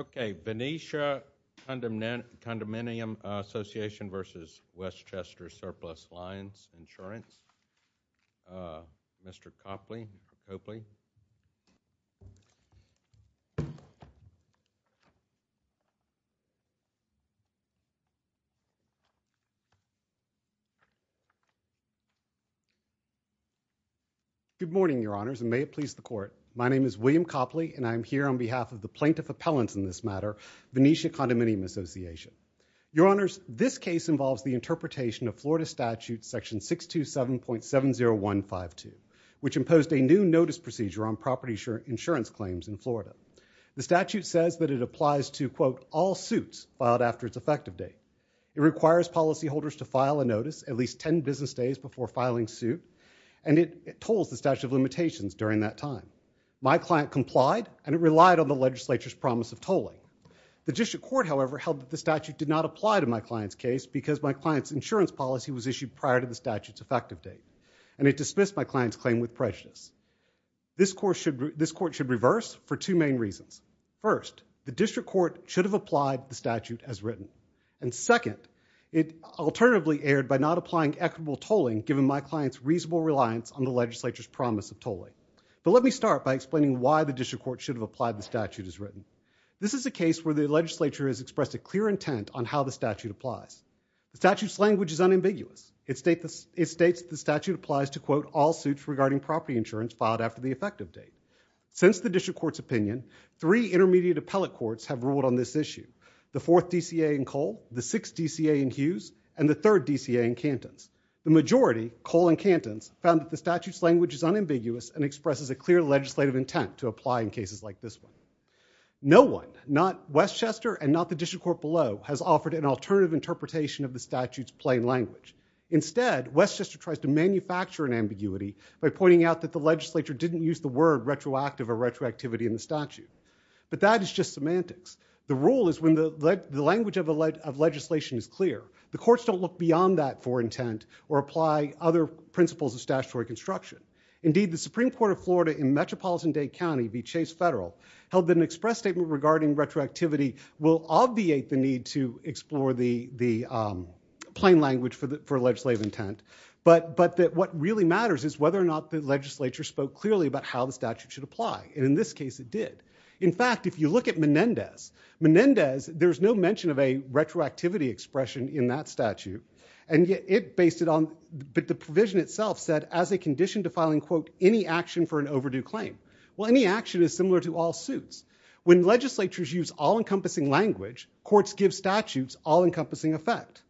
Okay, Venetia Condominium Association v. Westchester Surplus Lines Insurance, Mr. Copley, hopefully. Good morning, Your Honors, and may it please the Court. My name is William Copley, and I am here on behalf of the Plaintiff Appellants in this matter, Venetia Condominium Association. Your Honors, this case involves the interpretation of Florida Statute Section 627.70152, which imposed a new notice procedure on property insurance claims in Florida. The statute says that it applies to, quote, all suits filed after its effective date. It requires policyholders to file a notice at least 10 business days before filing suit, and it tolls the statute of limitations during that time. My client complied, and it relied on the legislature's promise of tolling. The district court, however, held that the statute did not apply to my client's case because my client's insurance policy was issued prior to the statute's effective date, and it dismissed my client's claim with prejudice. This Court should reverse for two main reasons. First, the district court should have applied the statute as written. And second, it alternatively erred by not applying equitable tolling, given my client's reasonable reliance on the legislature's promise of tolling. But let me start by explaining why the district court should have applied the statute as written. This is a case where the legislature has expressed a clear intent on how the statute applies. The statute's language is unambiguous. It states the statute applies to, quote, all suits regarding property insurance filed after the effective date. Since the district court's opinion, three intermediate appellate courts have ruled on this issue, the 4th DCA in Cole, the 6th DCA in Hughes, and the 3rd DCA in Cantons. The majority, Cole and Cantons, found that the statute's language is unambiguous and expresses a clear legislative intent to apply in cases like this one. No one, not Westchester and not the district court below, has offered an alternative interpretation of the statute's plain language. Instead, Westchester tries to manufacture an ambiguity by pointing out that the legislature didn't use the word retroactive or retroactivity in the statute. But that is just semantics. The rule is when the language of legislation is clear. The courts don't look beyond that for intent or apply other principles of statutory construction. Indeed, the Supreme Court of Florida in Metropolitan Dade County v. Chase Federal held that an plain language for legislative intent. But that what really matters is whether or not the legislature spoke clearly about how the statute should apply. And in this case, it did. In fact, if you look at Menendez, Menendez, there's no mention of a retroactivity expression in that statute. And yet it based it on, the provision itself said, as a condition to filing, quote, any action for an overdue claim. Well, any action is similar to all suits. When legislatures use all-encompassing language, courts give statutes all-encompassing effect.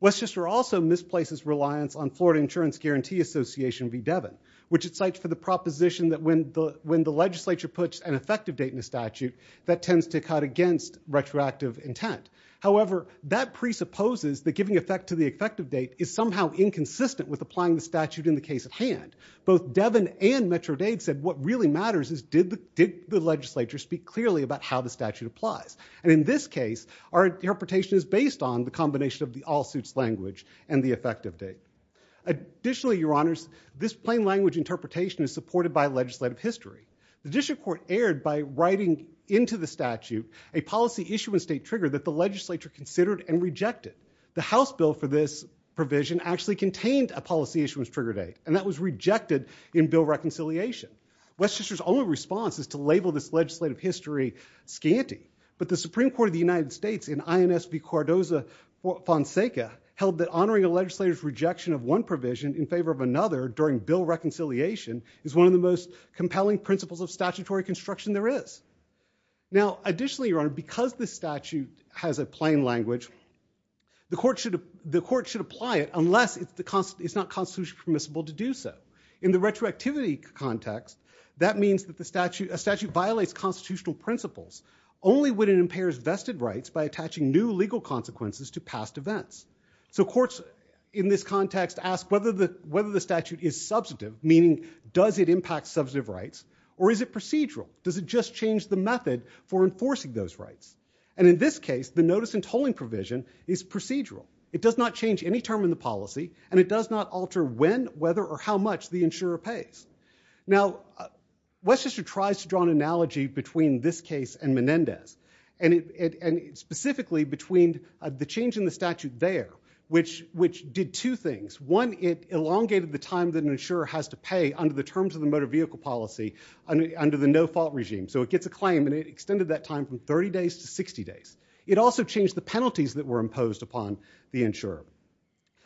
Westchester also misplaces reliance on Florida Insurance Guarantee Association v. Devon, which it cites for the proposition that when the legislature puts an effective date in a statute, that tends to cut against retroactive intent. However, that presupposes that giving effect to the effective date is somehow inconsistent with applying the statute in the case at hand. Both Devon and Metro-Dade said what really matters is, did the legislature speak clearly about how the statute applies? And in this case, our interpretation is based on the combination of the all-suits language and the effective date. Additionally, Your Honors, this plain language interpretation is supported by legislative history. The district court erred by writing into the statute a policy issue and state trigger that the legislature considered and rejected. The House bill for this provision actually contained a policy issue and trigger date, and that was rejected in bill reconciliation. Westchester's only response is to label this legislative history scanty. But the Supreme Court of the United States in INS v. Cardoza v. Fonseca held that honoring a legislator's rejection of one provision in favor of another during bill reconciliation is one of the most compelling principles of statutory construction there is. Now, additionally, Your Honor, because this statute has a plain language, the court should do so. In the retroactivity context, that means that a statute violates constitutional principles only when it impairs vested rights by attaching new legal consequences to past events. So courts in this context ask whether the statute is substantive, meaning does it impact substantive rights, or is it procedural? Does it just change the method for enforcing those rights? And in this case, the notice and tolling provision is procedural. It does not change any term in the policy, and it does not alter when, whether, or how much the insurer pays. Now, Westchester tries to draw an analogy between this case and Menendez, and specifically between the change in the statute there, which did two things. One, it elongated the time that an insurer has to pay under the terms of the motor vehicle policy under the no-fault regime. So it gets a claim, and it extended that time from 30 days to 60 days. It also changed the penalties that were imposed upon the insurer.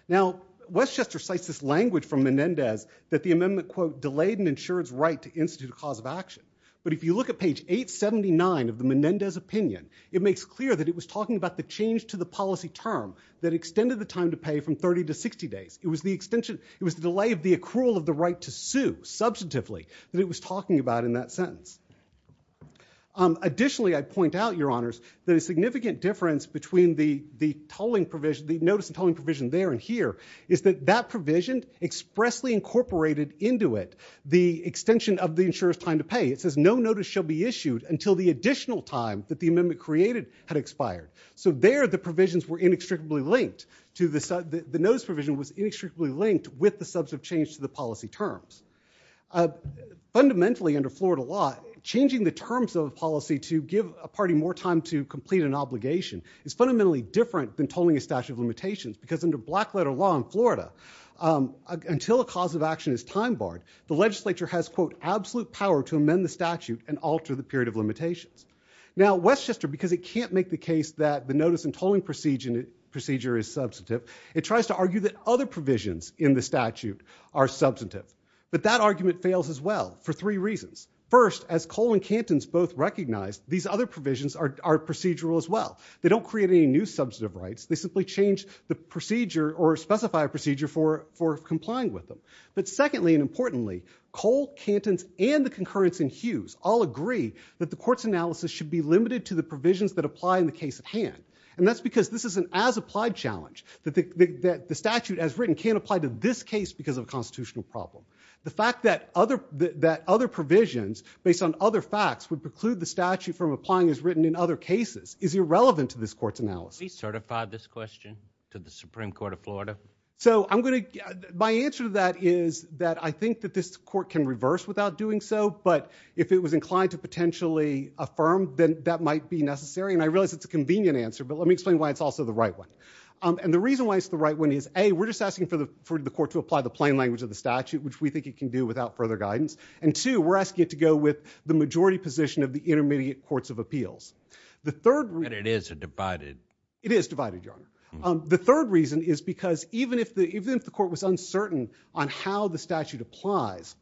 Now, Westchester cites this language from Menendez that the amendment, quote, delayed an insurer's right to institute a cause of action. But if you look at page 879 of the Menendez opinion, it makes clear that it was talking about the change to the policy term that extended the time to pay from 30 to 60 days. It was the extension. It was the delay of the accrual of the right to sue, substantively, that it was talking about in that sentence. Additionally, I'd point out, Your Honors, that a significant difference between the notice and tolling provision there and here is that that provision expressly incorporated into it the extension of the insurer's time to pay. It says, no notice shall be issued until the additional time that the amendment created had expired. So there, the provisions were inextricably linked. The notice provision was inextricably linked with the substantive change to the policy terms. Fundamentally, under Florida law, changing the terms of a policy to give a party more time to complete an obligation is fundamentally different than tolling a statute of limitations because under black letter law in Florida, until a cause of action is time barred, the legislature has, quote, absolute power to amend the statute and alter the period of limitations. Now, Westchester, because it can't make the case that the notice and tolling procedure is substantive, it tries to argue that other provisions in the statute are substantive. But that argument fails as well for three reasons. First, as Cole and Cantons both recognized, these other provisions are procedural as well. They don't create any new substantive rights. They simply change the procedure or specify a procedure for complying with them. But secondly and importantly, Cole, Cantons, and the concurrence in Hughes all agree that the court's analysis should be limited to the provisions that apply in the case at hand. And that's because this is an as-applied challenge, that the statute as written can't apply to this case because of a constitutional problem. The fact that other provisions, based on other facts, would preclude the statute from applying as written in other cases is irrelevant to this court's analysis. Can we certify this question to the Supreme Court of Florida? So my answer to that is that I think that this court can reverse without doing so. But if it was inclined to potentially affirm, then that might be necessary. And I realize it's a convenient answer, but let me explain why it's also the right one. And the reason why it's the right one is, A, we're just asking for the court to apply the plain language of the statute, which we think it can do without further guidance. And two, we're asking it to go with the majority position of the intermediate courts of appeals. The third reason is because even if the court was uncertain on how the statute applies,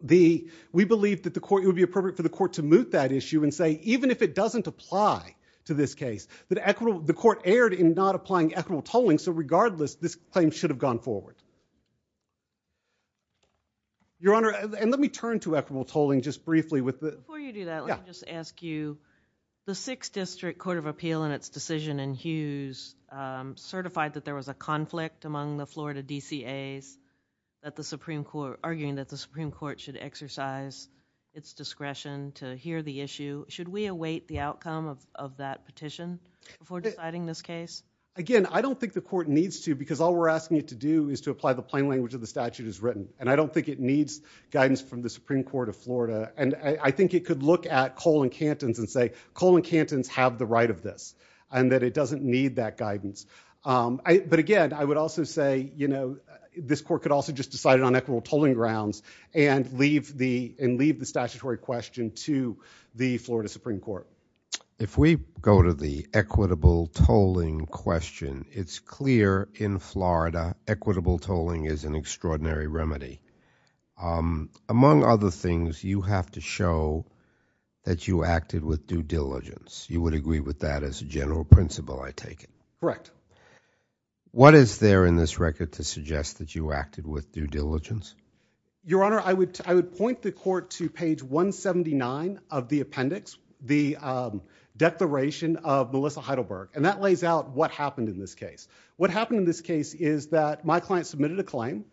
we believe that it would be appropriate for the court to moot that issue and say, even if it doesn't apply to this case, that the court erred in not applying equitable tolling. So regardless, this claim should have gone forward. Your Honor, and let me turn to equitable tolling just briefly with the... Before you do that, let me just ask you, the Sixth District Court of Appeal in its decision in Hughes certified that there was a conflict among the Florida DCAs, arguing that the Supreme Court should exercise its discretion to hear the issue. Should we await the outcome of that petition before deciding this case? Again, I don't think the court needs to, because all we're asking it to do is to apply the plain language of the statute as written. And I don't think it needs guidance from the Supreme Court of Florida. And I think it could look at Cole and Cantons and say, Cole and Cantons have the right of this, and that it doesn't need that guidance. But again, I would also say, you know, this court could also just decide on equitable tolling grounds and leave the statutory question to the Florida Supreme Court. If we go to the equitable tolling question, it's clear in Florida, equitable tolling is an extraordinary remedy. Among other things, you have to show that you acted with due diligence. You would agree with that as a general principle, I take it? Correct. What is there in this record to suggest that you acted with due diligence? Your Honor, I would point the court to page 179 of the appendix, the declaration of Melissa Heidelberg. And that lays out what happened in this case. What happened in this case is that my client submitted a claim.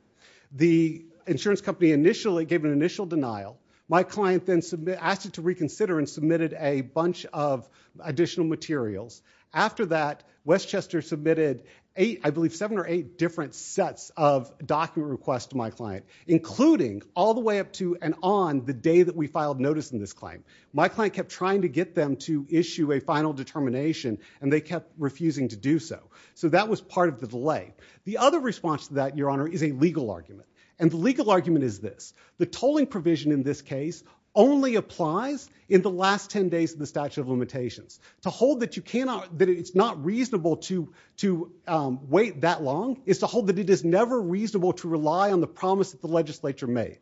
The insurance company initially gave an initial denial. My client then asked it to reconsider and submitted a bunch of additional materials. After that, Westchester submitted eight, I believe seven or eight different sets of document requests to my client, including all the way up to and on the day that we filed notice in this claim. My client kept trying to get them to issue a final determination, and they kept refusing to do so. So that was part of the delay. The other response to that, Your Honor, is a legal argument. And the legal argument is this. The tolling provision in this case only applies in the last 10 days of the statute of limitations. To hold that it's not reasonable to wait that long is to hold that it is never reasonable to rely on the promise that the legislature made.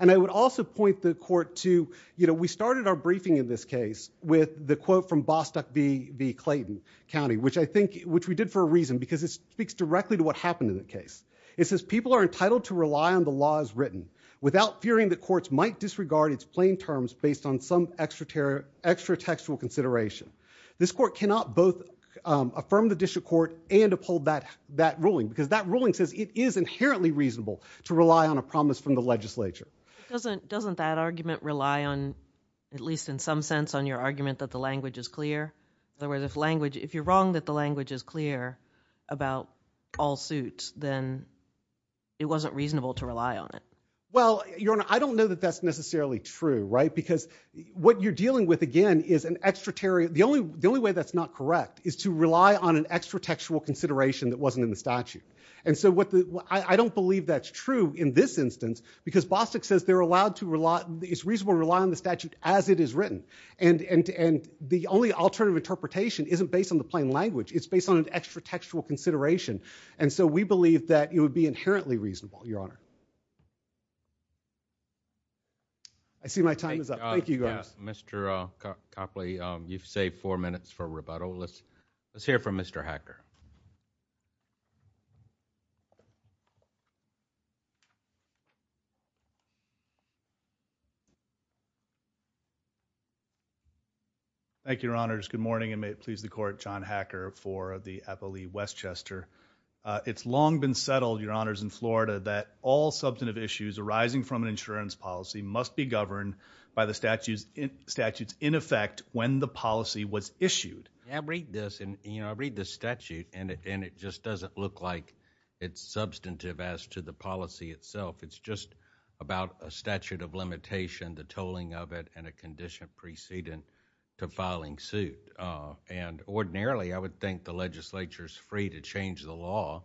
And I would also point the court to, you know, we started our briefing in this case with the quote from Bostock v. Clayton County, which I think, which we did for a reason, because it speaks directly to what happened in the case. It says, people are entitled to rely on the laws written without fearing that courts might disregard its plain terms based on some extra-textual consideration. This court cannot both affirm the district court and uphold that ruling, because that ruling says it is inherently reasonable to rely on a promise from the legislature. Doesn't that argument rely on, at least in some sense, on your argument that the language is clear? In other words, if you're wrong that the language is clear about all suits, then it wasn't reasonable to rely on it. Well, Your Honor, I don't know that that's necessarily true, right? Because what you're dealing with, again, is an extraterritorial, the only way that's not correct is to rely on an extra-textual consideration that wasn't in the statute. And so what the, I don't believe that's true in this instance, because Bostock says they're allowed to rely, it's reasonable to rely on the statute as it is written. And the only alternative interpretation isn't based on the plain language. It's based on an extra-textual consideration. And so we believe that it would be inherently reasonable, Your Honor. I see my time is up. Thank you, Your Honor. Mr. Copley, you've saved four minutes for rebuttal. Let's hear from Mr. Hacker. Thank you, Your Honors. Good morning, and may it please the Court, John Hacker for the FLE Westchester. It's long been settled, Your Honors, in Florida that all substantive issues arising from an insurance policy must be governed by the statutes in effect when the policy was issued. Yeah, I read this, and I read the statute, and it just doesn't look like it's substantive as to the policy itself. It's just about a statute of limitation, the tolling of it, and a condition precedent to it. And ordinarily, I would think the legislature's free to change the law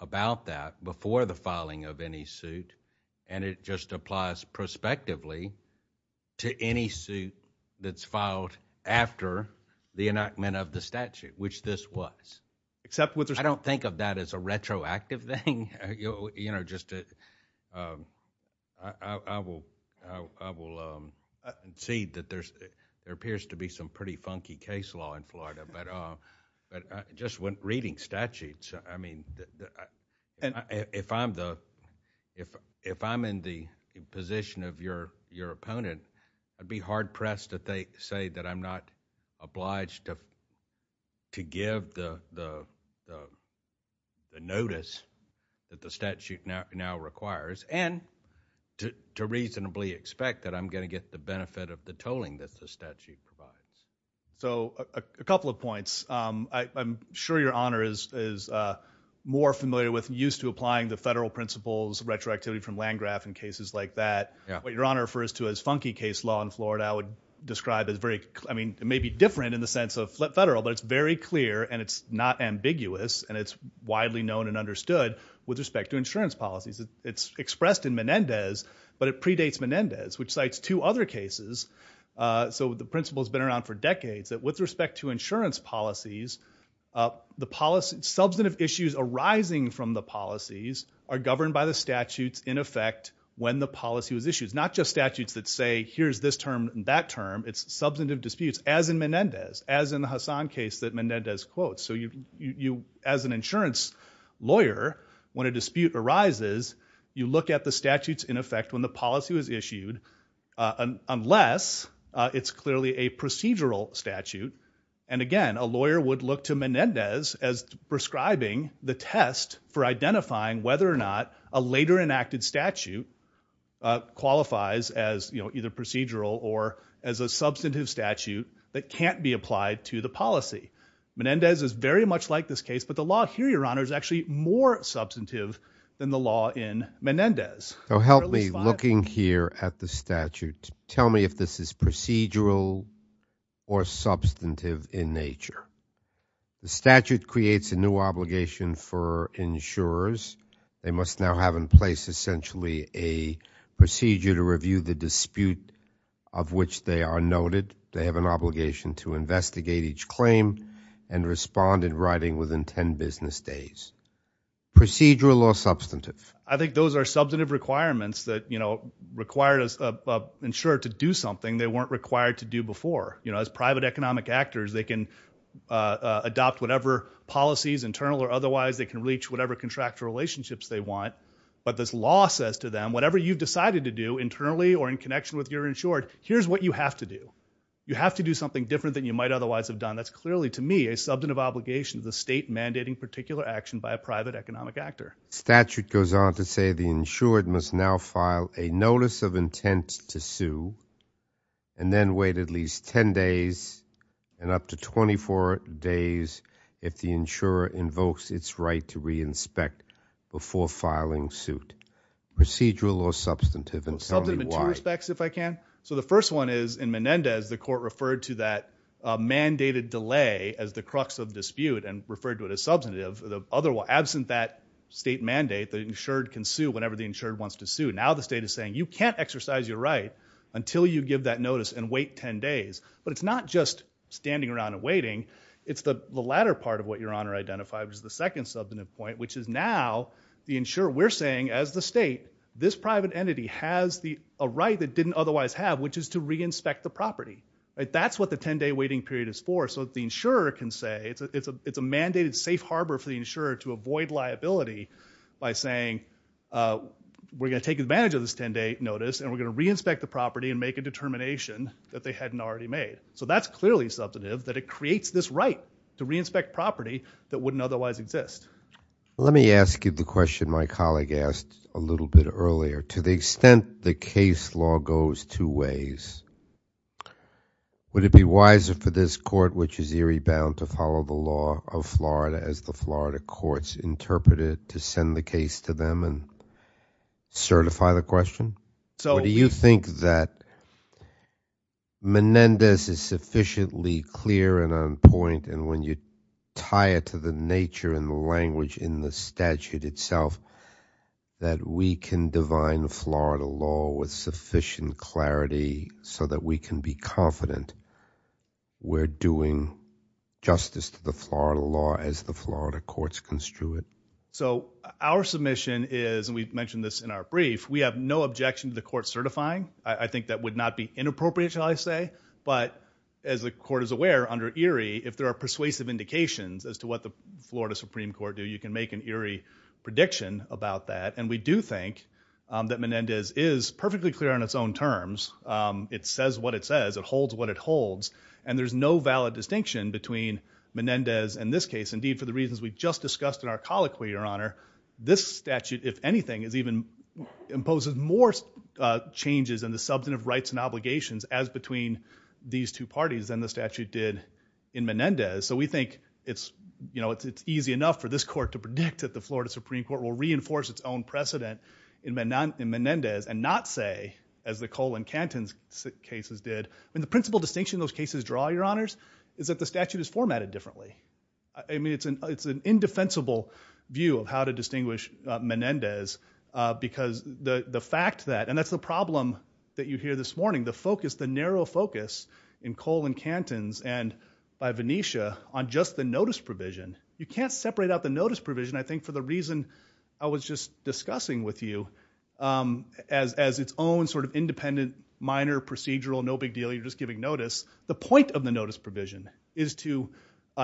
about that before the filing of any suit, and it just applies prospectively to any suit that's filed after the enactment of the statute, which this was. Except with the— I don't think of that as a retroactive thing, you know, just to—I will cede that there appears to be some pretty funky case law in Florida, but just reading statutes, I mean, if I'm in the position of your opponent, I'd be hard-pressed to say that I'm not obliged to give the notice that the statute now requires, and to reasonably expect that I'm going to get the benefit of the tolling that the statute provides. So a couple of points. I'm sure your Honor is more familiar with and used to applying the federal principles of retroactivity from Landgraf and cases like that. Your Honor refers to a funky case law in Florida I would describe as very—I mean, it may be different in the sense of federal, but it's very clear, and it's not ambiguous, and it's widely known and understood with respect to insurance policies. It's expressed in Menendez, but it predates Menendez, which cites two other cases. So the principle's been around for decades, that with respect to insurance policies, substantive issues arising from the policies are governed by the statutes in effect when the policy was issued. It's not just statutes that say, here's this term and that term. It's substantive disputes, as in Menendez, as in the Hassan case that Menendez quotes. So you, as an insurance lawyer, when a dispute arises, you look at the statutes in effect when the policy was issued, unless it's clearly a procedural statute. And again, a lawyer would look to Menendez as prescribing the test for identifying whether or not a later enacted statute qualifies as either procedural or as a substantive statute that can't be applied to the policy. Menendez is very much like this case, but the law here, Your Honor, is actually more substantive than the law in Menendez. So help me, looking here at the statute, tell me if this is procedural or substantive in nature. The statute creates a new obligation for insurers. They must now have in place, essentially, a procedure to review the dispute of which they are noted. They have an obligation to investigate each claim and respond in writing within 10 business days. Procedural or substantive? I think those are substantive requirements that, you know, require an insurer to do something they weren't required to do before. You know, as private economic actors, they can adopt whatever policies, internal or otherwise, they can reach whatever contractual relationships they want. But this law says to them, whatever you've decided to do internally or in connection with your insured, here's what you have to do. You have to do something different than you might otherwise have done. That's clearly, to me, a substantive obligation of the state mandating particular action by a private economic actor. Statute goes on to say the insured must now file a notice of intent to sue and then wait at least 10 days and up to 24 days if the insurer invokes its right to re-inspect before filing suit. Procedural or substantive? Substantive in two respects, if I can. So the first one is, in Menendez, the court referred to that mandated delay as the crux of dispute and referred to it as substantive. Absent that state mandate, the insured can sue whenever the insured wants to sue. Now the state is saying, you can't exercise your right until you give that notice and wait 10 days. But it's not just standing around and waiting. It's the latter part of what Your Honor identified, which is the second substantive point, which is now the insurer, we're saying, as the state, this private entity has a right that didn't otherwise have, which is to re-inspect the property. That's what the 10-day waiting period is for. So the insurer can say, it's a mandated safe harbor for the insurer to avoid liability by saying, we're going to take advantage of this 10-day notice and we're going to re-inspect the property and make a determination that they hadn't already made. So that's clearly substantive, that it creates this right to re-inspect property that wouldn't otherwise exist. Let me ask you the question my colleague asked a little bit earlier. To the extent the case law goes two ways, would it be wiser for this court, which is eerie bound to follow the law of Florida as the Florida courts interpret it, to send the case to them and certify the question? So do you think that Menendez is sufficiently clear and on point and when you tie it to the nature and the language in the statute itself, that we can divine Florida law with sufficient clarity so that we can be confident we're doing justice to the Florida law as the Florida courts construe it? So our submission is, and we've mentioned this in our brief, we have no objection to the court certifying. I think that would not be inappropriate, shall I say. But as the court is aware, under eerie, if there are persuasive indications as to what the Florida Supreme Court do, you can make an eerie prediction about that. And we do think that Menendez is perfectly clear on its own terms. It says what it says. It holds what it holds. And there's no valid distinction between Menendez and this case. Indeed, for the reasons we just discussed in our colloquy, Your Honor, this statute, if anything, is even, imposes more changes in the substantive rights and obligations as between these two parties than the statute did in Menendez. So we think it's easy enough for this court to predict that the Florida Supreme Court will reinforce its own precedent in Menendez and not say, as the Cole and Cantons cases did, the principal distinction those cases draw, Your Honors, is that the statute is formatted differently. I mean, it's an indefensible view of how to distinguish Menendez because the fact that, and that's the problem that you hear this morning, the narrow focus in Cole and Cantons and by Venetia on just the notice provision. You can't separate out the notice provision, I think, for the reason I was just discussing with you, as its own sort of independent, minor, procedural, no big deal, you're just giving notice. The point of the notice provision is to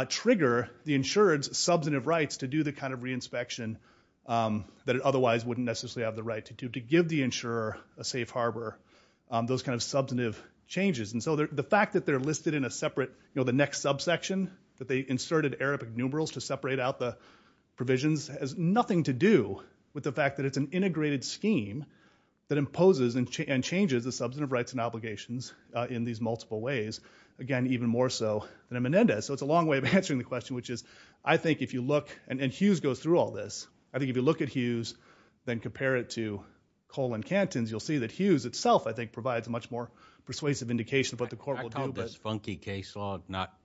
trigger the insurer's substantive rights to do the kind of re-inspection that it otherwise wouldn't necessarily have the right to do, to give the insurer a safe harbor, those kind of substantive changes. And so the fact that they're listed in a separate, you know, the next subsection that they inserted Arabic numerals to separate out the provisions has nothing to do with the fact that it's an integrated scheme that imposes and changes the substantive rights and obligations in these multiple ways, again, even more so than in Menendez. So it's a long way of answering the question, which is I think if you look, and Hughes goes through all this, I think if you look at Hughes, then compare it to Cole and Cantons, you'll see that Hughes itself, I think, provides a much more persuasive indication of what the court will do. I call this funky case law, not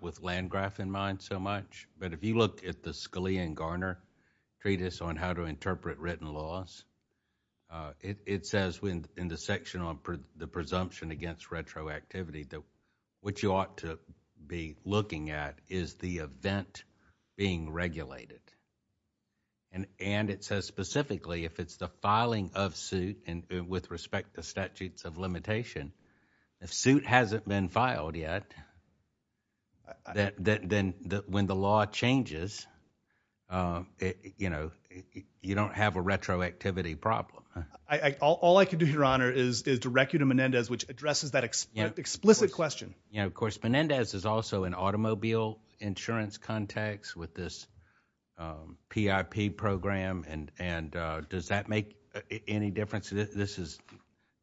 with Landgraf in mind so much, but if you look at the Scalia and Garner treatise on how to interpret written laws, it says in the section on the presumption against retroactivity that what you ought to be looking at is the event being regulated. And it says specifically if it's the filing of suit and with respect to statutes of limitation, if suit hasn't been filed yet, then when the law changes, you know, you don't have a retroactivity problem. All I can do, Your Honor, is direct you to Menendez, which addresses that explicit question. And of course, Menendez is also an automobile insurance context with this PIP program, and does that make any difference? This is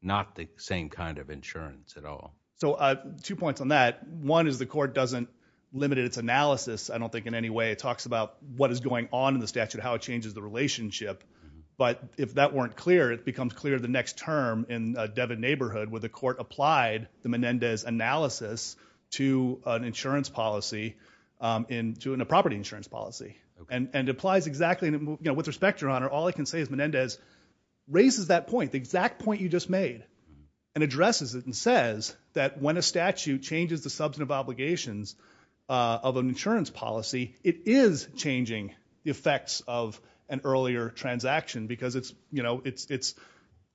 not the same kind of insurance at all. So two points on that. One is the court doesn't limit its analysis, I don't think, in any way. It talks about what is going on in the statute, how it changes the relationship. But if that weren't clear, it becomes clear the next term in Devon neighborhood where the court applied the Menendez analysis to an insurance policy, to a property insurance policy. And it applies exactly, you know, with respect, Your Honor, all I can say is Menendez raises that point, the exact point you just made, and addresses it and says that when a statute changes the substantive obligations of an insurance policy, it is changing the effects of an earlier transaction, because it's, you know, it's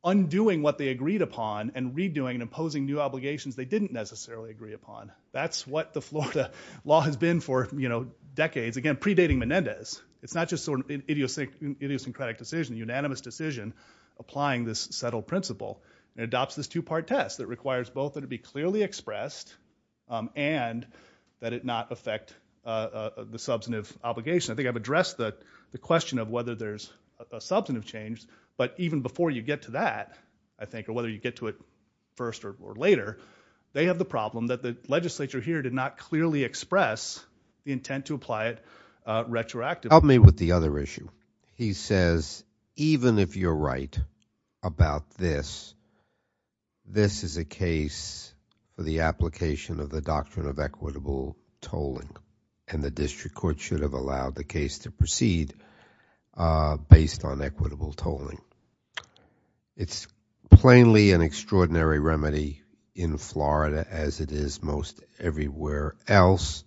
undoing what they agreed upon and redoing and imposing new obligations they didn't necessarily agree upon. That's what the Florida law has been for, you know, decades, again, predating Menendez. It's not just sort of an idiosyncratic decision, a unanimous decision, applying this settled principle. It adopts this two-part test that requires both that it be clearly expressed and that it not affect the substantive obligation. I think I've addressed the question of whether there's a substantive change, but even before you get to that, I think, or whether you get to it first or later, they have the problem that the legislature here did not clearly express the intent to apply it retroactively. Help me with the other issue. He says even if you're right about this, this is a case for the application of the doctrine of equitable tolling, and the district court should have allowed the case to proceed based on equitable tolling. It's plainly an extraordinary remedy in Florida as it is most everywhere else,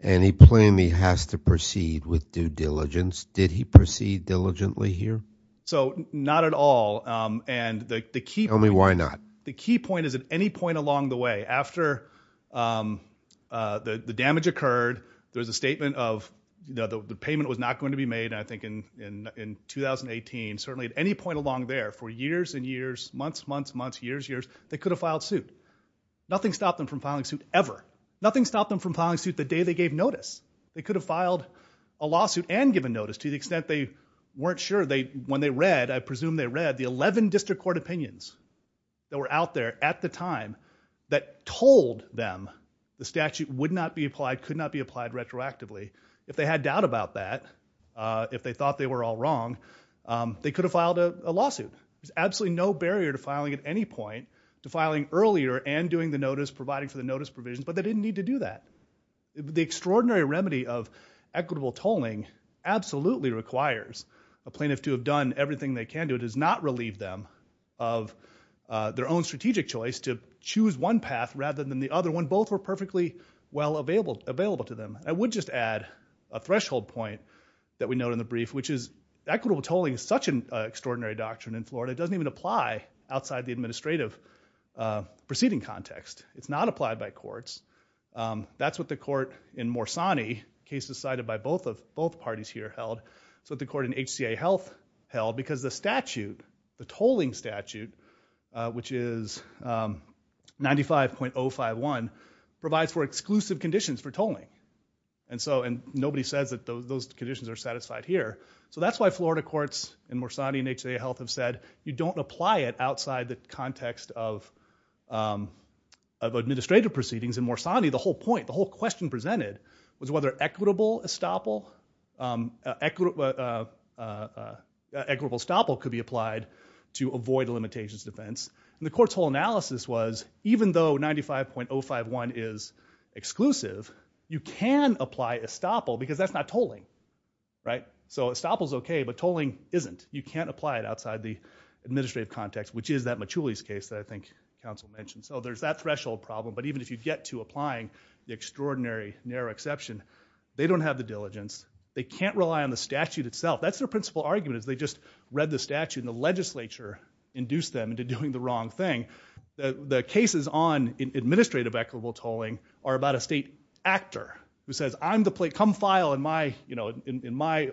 and he plainly has to proceed with due diligence. Did he proceed diligently here? So not at all. And the key point... Tell me why not. The key point is at any point along the way, after the damage occurred, there was a statement of the payment was not going to be made, and I think in 2018, certainly at any point along there, for years and years, months, months, months, years, years, they could have filed suit. Nothing stopped them from filing suit ever. Nothing stopped them from filing suit the day they gave notice. They could have filed a lawsuit and given notice to the extent they weren't sure. When they read, I presume they read, the 11 district court opinions that were out there at the time that told them the statute would not be applied, could not be applied retroactively, if they had doubt about that, if they thought they were all wrong, they could have filed a lawsuit. There's absolutely no barrier to filing at any point, to filing earlier and doing the notice, providing for the notice provisions, but they didn't need to do that. The extraordinary remedy of equitable tolling absolutely requires a plaintiff to have done everything they can do. It does not relieve them of their own strategic choice to choose one path rather than the other one. Both were perfectly well available to them. I would just add a threshold point that we note in the brief, which is equitable tolling is such an extraordinary doctrine in Florida, it doesn't even apply outside the administrative proceeding context. It's not applied by courts. That's what the court in Morsani, a case decided by both parties here held, so the court in HCA Health held because the statute, the tolling statute, which is 95.051, provides for exclusive conditions for tolling. Nobody says that those conditions are satisfied here. That's why Florida courts in Morsani and HCA Health have said you don't apply it outside the context of administrative proceedings. In Morsani, the whole point, the whole question presented was whether equitable estoppel could be applied to avoid a limitations defense. The court's whole analysis was even though 95.051 is exclusive, you can apply estoppel because that's not tolling. Estoppel's okay, but tolling isn't. You can't apply it outside the administrative context, which is that Machulis case that I think counsel mentioned. There's that threshold problem, but even if you get to applying the extraordinary narrow exception, they don't have the diligence. They can't rely on the statute itself. That's their principal argument is they just read the statute and the legislature induced them into doing the wrong thing. The cases on administrative equitable tolling are about a state actor who says, come file in my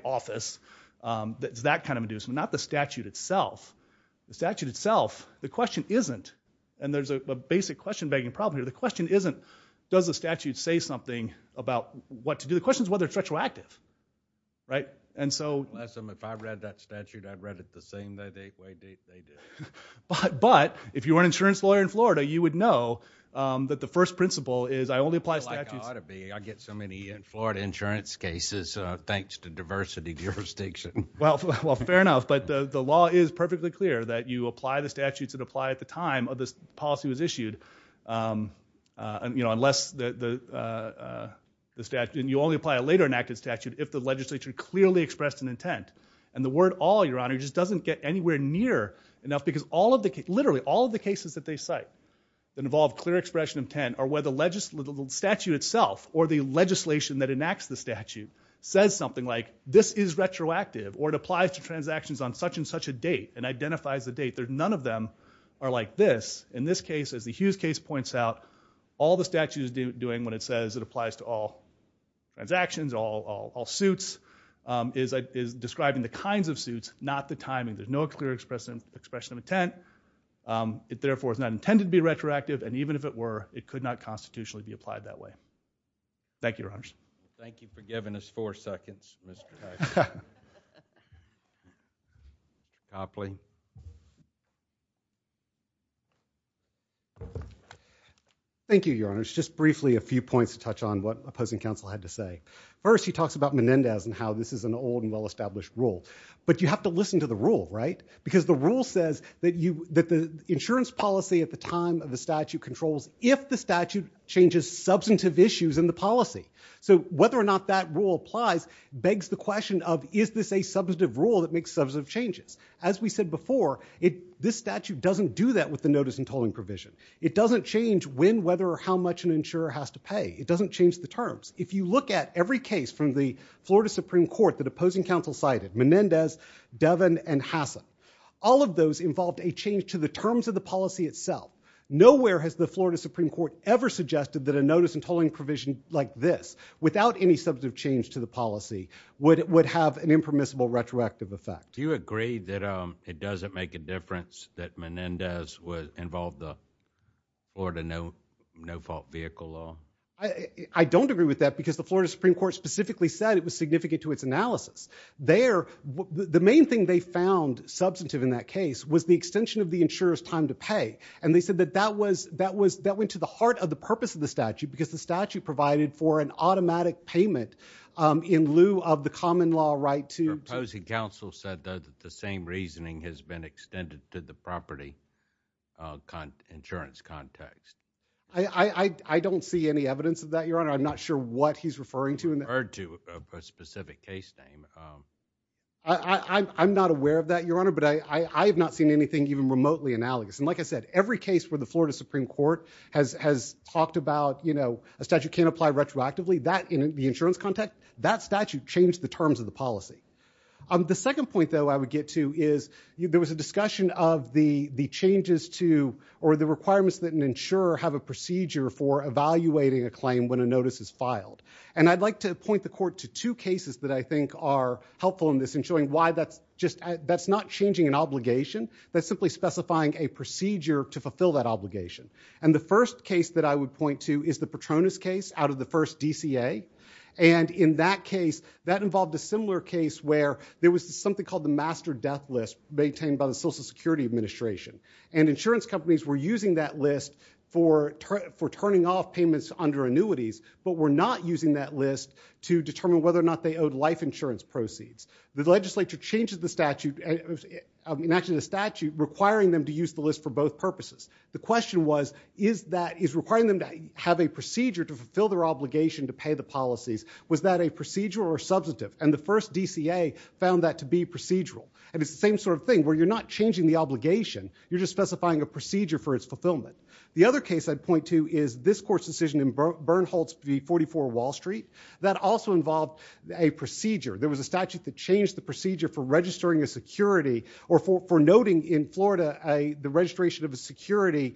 office, that's that kind of inducement, not the statute itself. The statute itself, the question isn't, and there's a basic question-begging problem here, the question isn't does the statute say something about what to do? The question's whether it's retroactive. Right? And so- Unless if I read that statute, I'd read it the same way they did. But if you were an insurance lawyer in Florida, you would know that the first principle is I only apply statutes- Well, fair enough, but the law is perfectly clear that you apply the statutes that apply at the time of this policy was issued, you know, unless the statute, and you only apply a later enacted statute if the legislature clearly expressed an intent. And the word all, your honor, just doesn't get anywhere near enough because all of the cases, literally all of the cases that they cite that involve clear expression of intent are where the statute itself, or the legislation that enacts the statute, says something like this is retroactive, or it applies to transactions on such and such a date, and identifies the date. There's none of them are like this. In this case, as the Hughes case points out, all the statute is doing when it says it applies to all transactions, all suits, is describing the kinds of suits, not the timing. There's no clear expression of intent. It, therefore, is not intended to be retroactive, and even if it were, it could not constitutionally be applied that way. Thank you, Your Honor. Thank you for giving us four seconds, Mr. Copley. Thank you, Your Honor. It's just briefly a few points to touch on what opposing counsel had to say. First, he talks about Menendez and how this is an old and well-established rule. But you have to listen to the rule, right? Because the rule says that the insurance policy at the time of the statute controls if the statute changes substantive issues in the policy. So whether or not that rule applies begs the question of, is this a substantive rule that makes substantive changes? As we said before, this statute doesn't do that with the notice and tolling provision. It doesn't change when, whether, or how much an insurer has to pay. It doesn't change the terms. If you look at every case from the Florida Supreme Court that opposing counsel cited, Menendez, Devin, and Hassan, all of those involved a change to the terms of the policy itself. Nowhere has the Florida Supreme Court ever suggested that a notice and tolling provision like this, without any substantive change to the policy, would have an impermissible retroactive effect. Do you agree that it doesn't make a difference that Menendez involved the Florida no-fault vehicle law? I don't agree with that because the Florida Supreme Court specifically said it was significant to its analysis. The main thing they found substantive in that case was the extension of the insurer's time to pay. And they said that that went to the heart of the purpose of the statute, because the statute provided for an automatic payment in lieu of the common law right to... Opposing counsel said, though, that the same reasoning has been extended to the property insurance context. I don't see any evidence of that, Your Honor. I'm not sure what he's referring to. I'm not aware of that, Your Honor, but I have not seen anything even remotely analogous. And like I said, every case where the Florida Supreme Court has talked about a statute can't apply retroactively, that in the insurance context, that statute changed the terms of the policy. The second point, though, I would get to is there was a discussion of the changes to or the requirements that an insurer have a procedure for evaluating a claim when a notice is filed. And I'd like to point the court to two cases that I think are helpful in this in showing why that's just... That's not changing an obligation. That's simply specifying a procedure to fulfill that obligation. And the first case that I would point to is the Petronas case out of the first DCA. And in that case, that involved a similar case where there was something called the master death list maintained by the Social Security Administration. And insurance companies were using that list for turning off payments under annuities, but were not using that list to determine whether or not they owed life insurance proceeds. The legislature changes the statute requiring them to use the list for both purposes. The question was, is requiring them to have a procedure to fulfill their obligation to pay the policies, was that a procedure or a substantive? And the first DCA found that to be procedural. And it's the same sort of thing where you're not changing the obligation, you're just specifying a procedure for its fulfillment. The other case I'd point to is this court's decision in Bernholtz v. 44 Wall Street. That also involved a procedure. There was a statute that changed the procedure for registering a security or for noting in Florida the registration of a security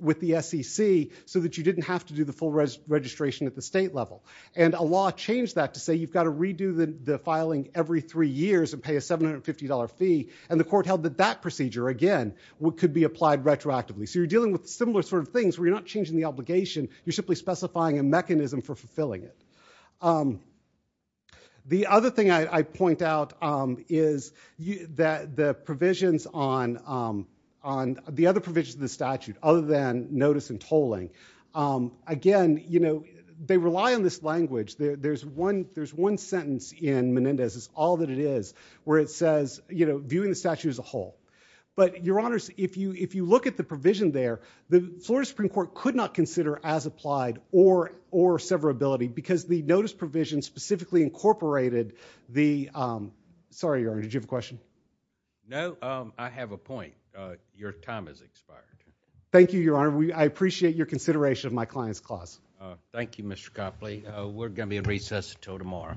with the SEC so that you didn't have to do the full registration at the state level. And a law changed that to say you've got to redo the filing every three years and pay a $750 fee. And the court held that that procedure, again, could be applied retroactively. So you're dealing with similar sort of things where you're not changing the obligation, you're simply specifying a mechanism for fulfilling it. The other thing I point out is that the provisions on the other provisions of the statute, other than notice and tolling, again, you know, they rely on this language. There's one sentence in Menendez's All That It Is where it says, you know, viewing the statute as a whole. But, Your Honors, if you look at the provision there, the Florida Supreme Court could not consider as applied or severability because the notice provision specifically incorporated the—sorry, Your Honor, did you have a question? No, I have a point. Your time has expired. Thank you, Your Honor. I appreciate your consideration of my client's clause. Thank you, Mr. Copley. We're going to be in recess until tomorrow.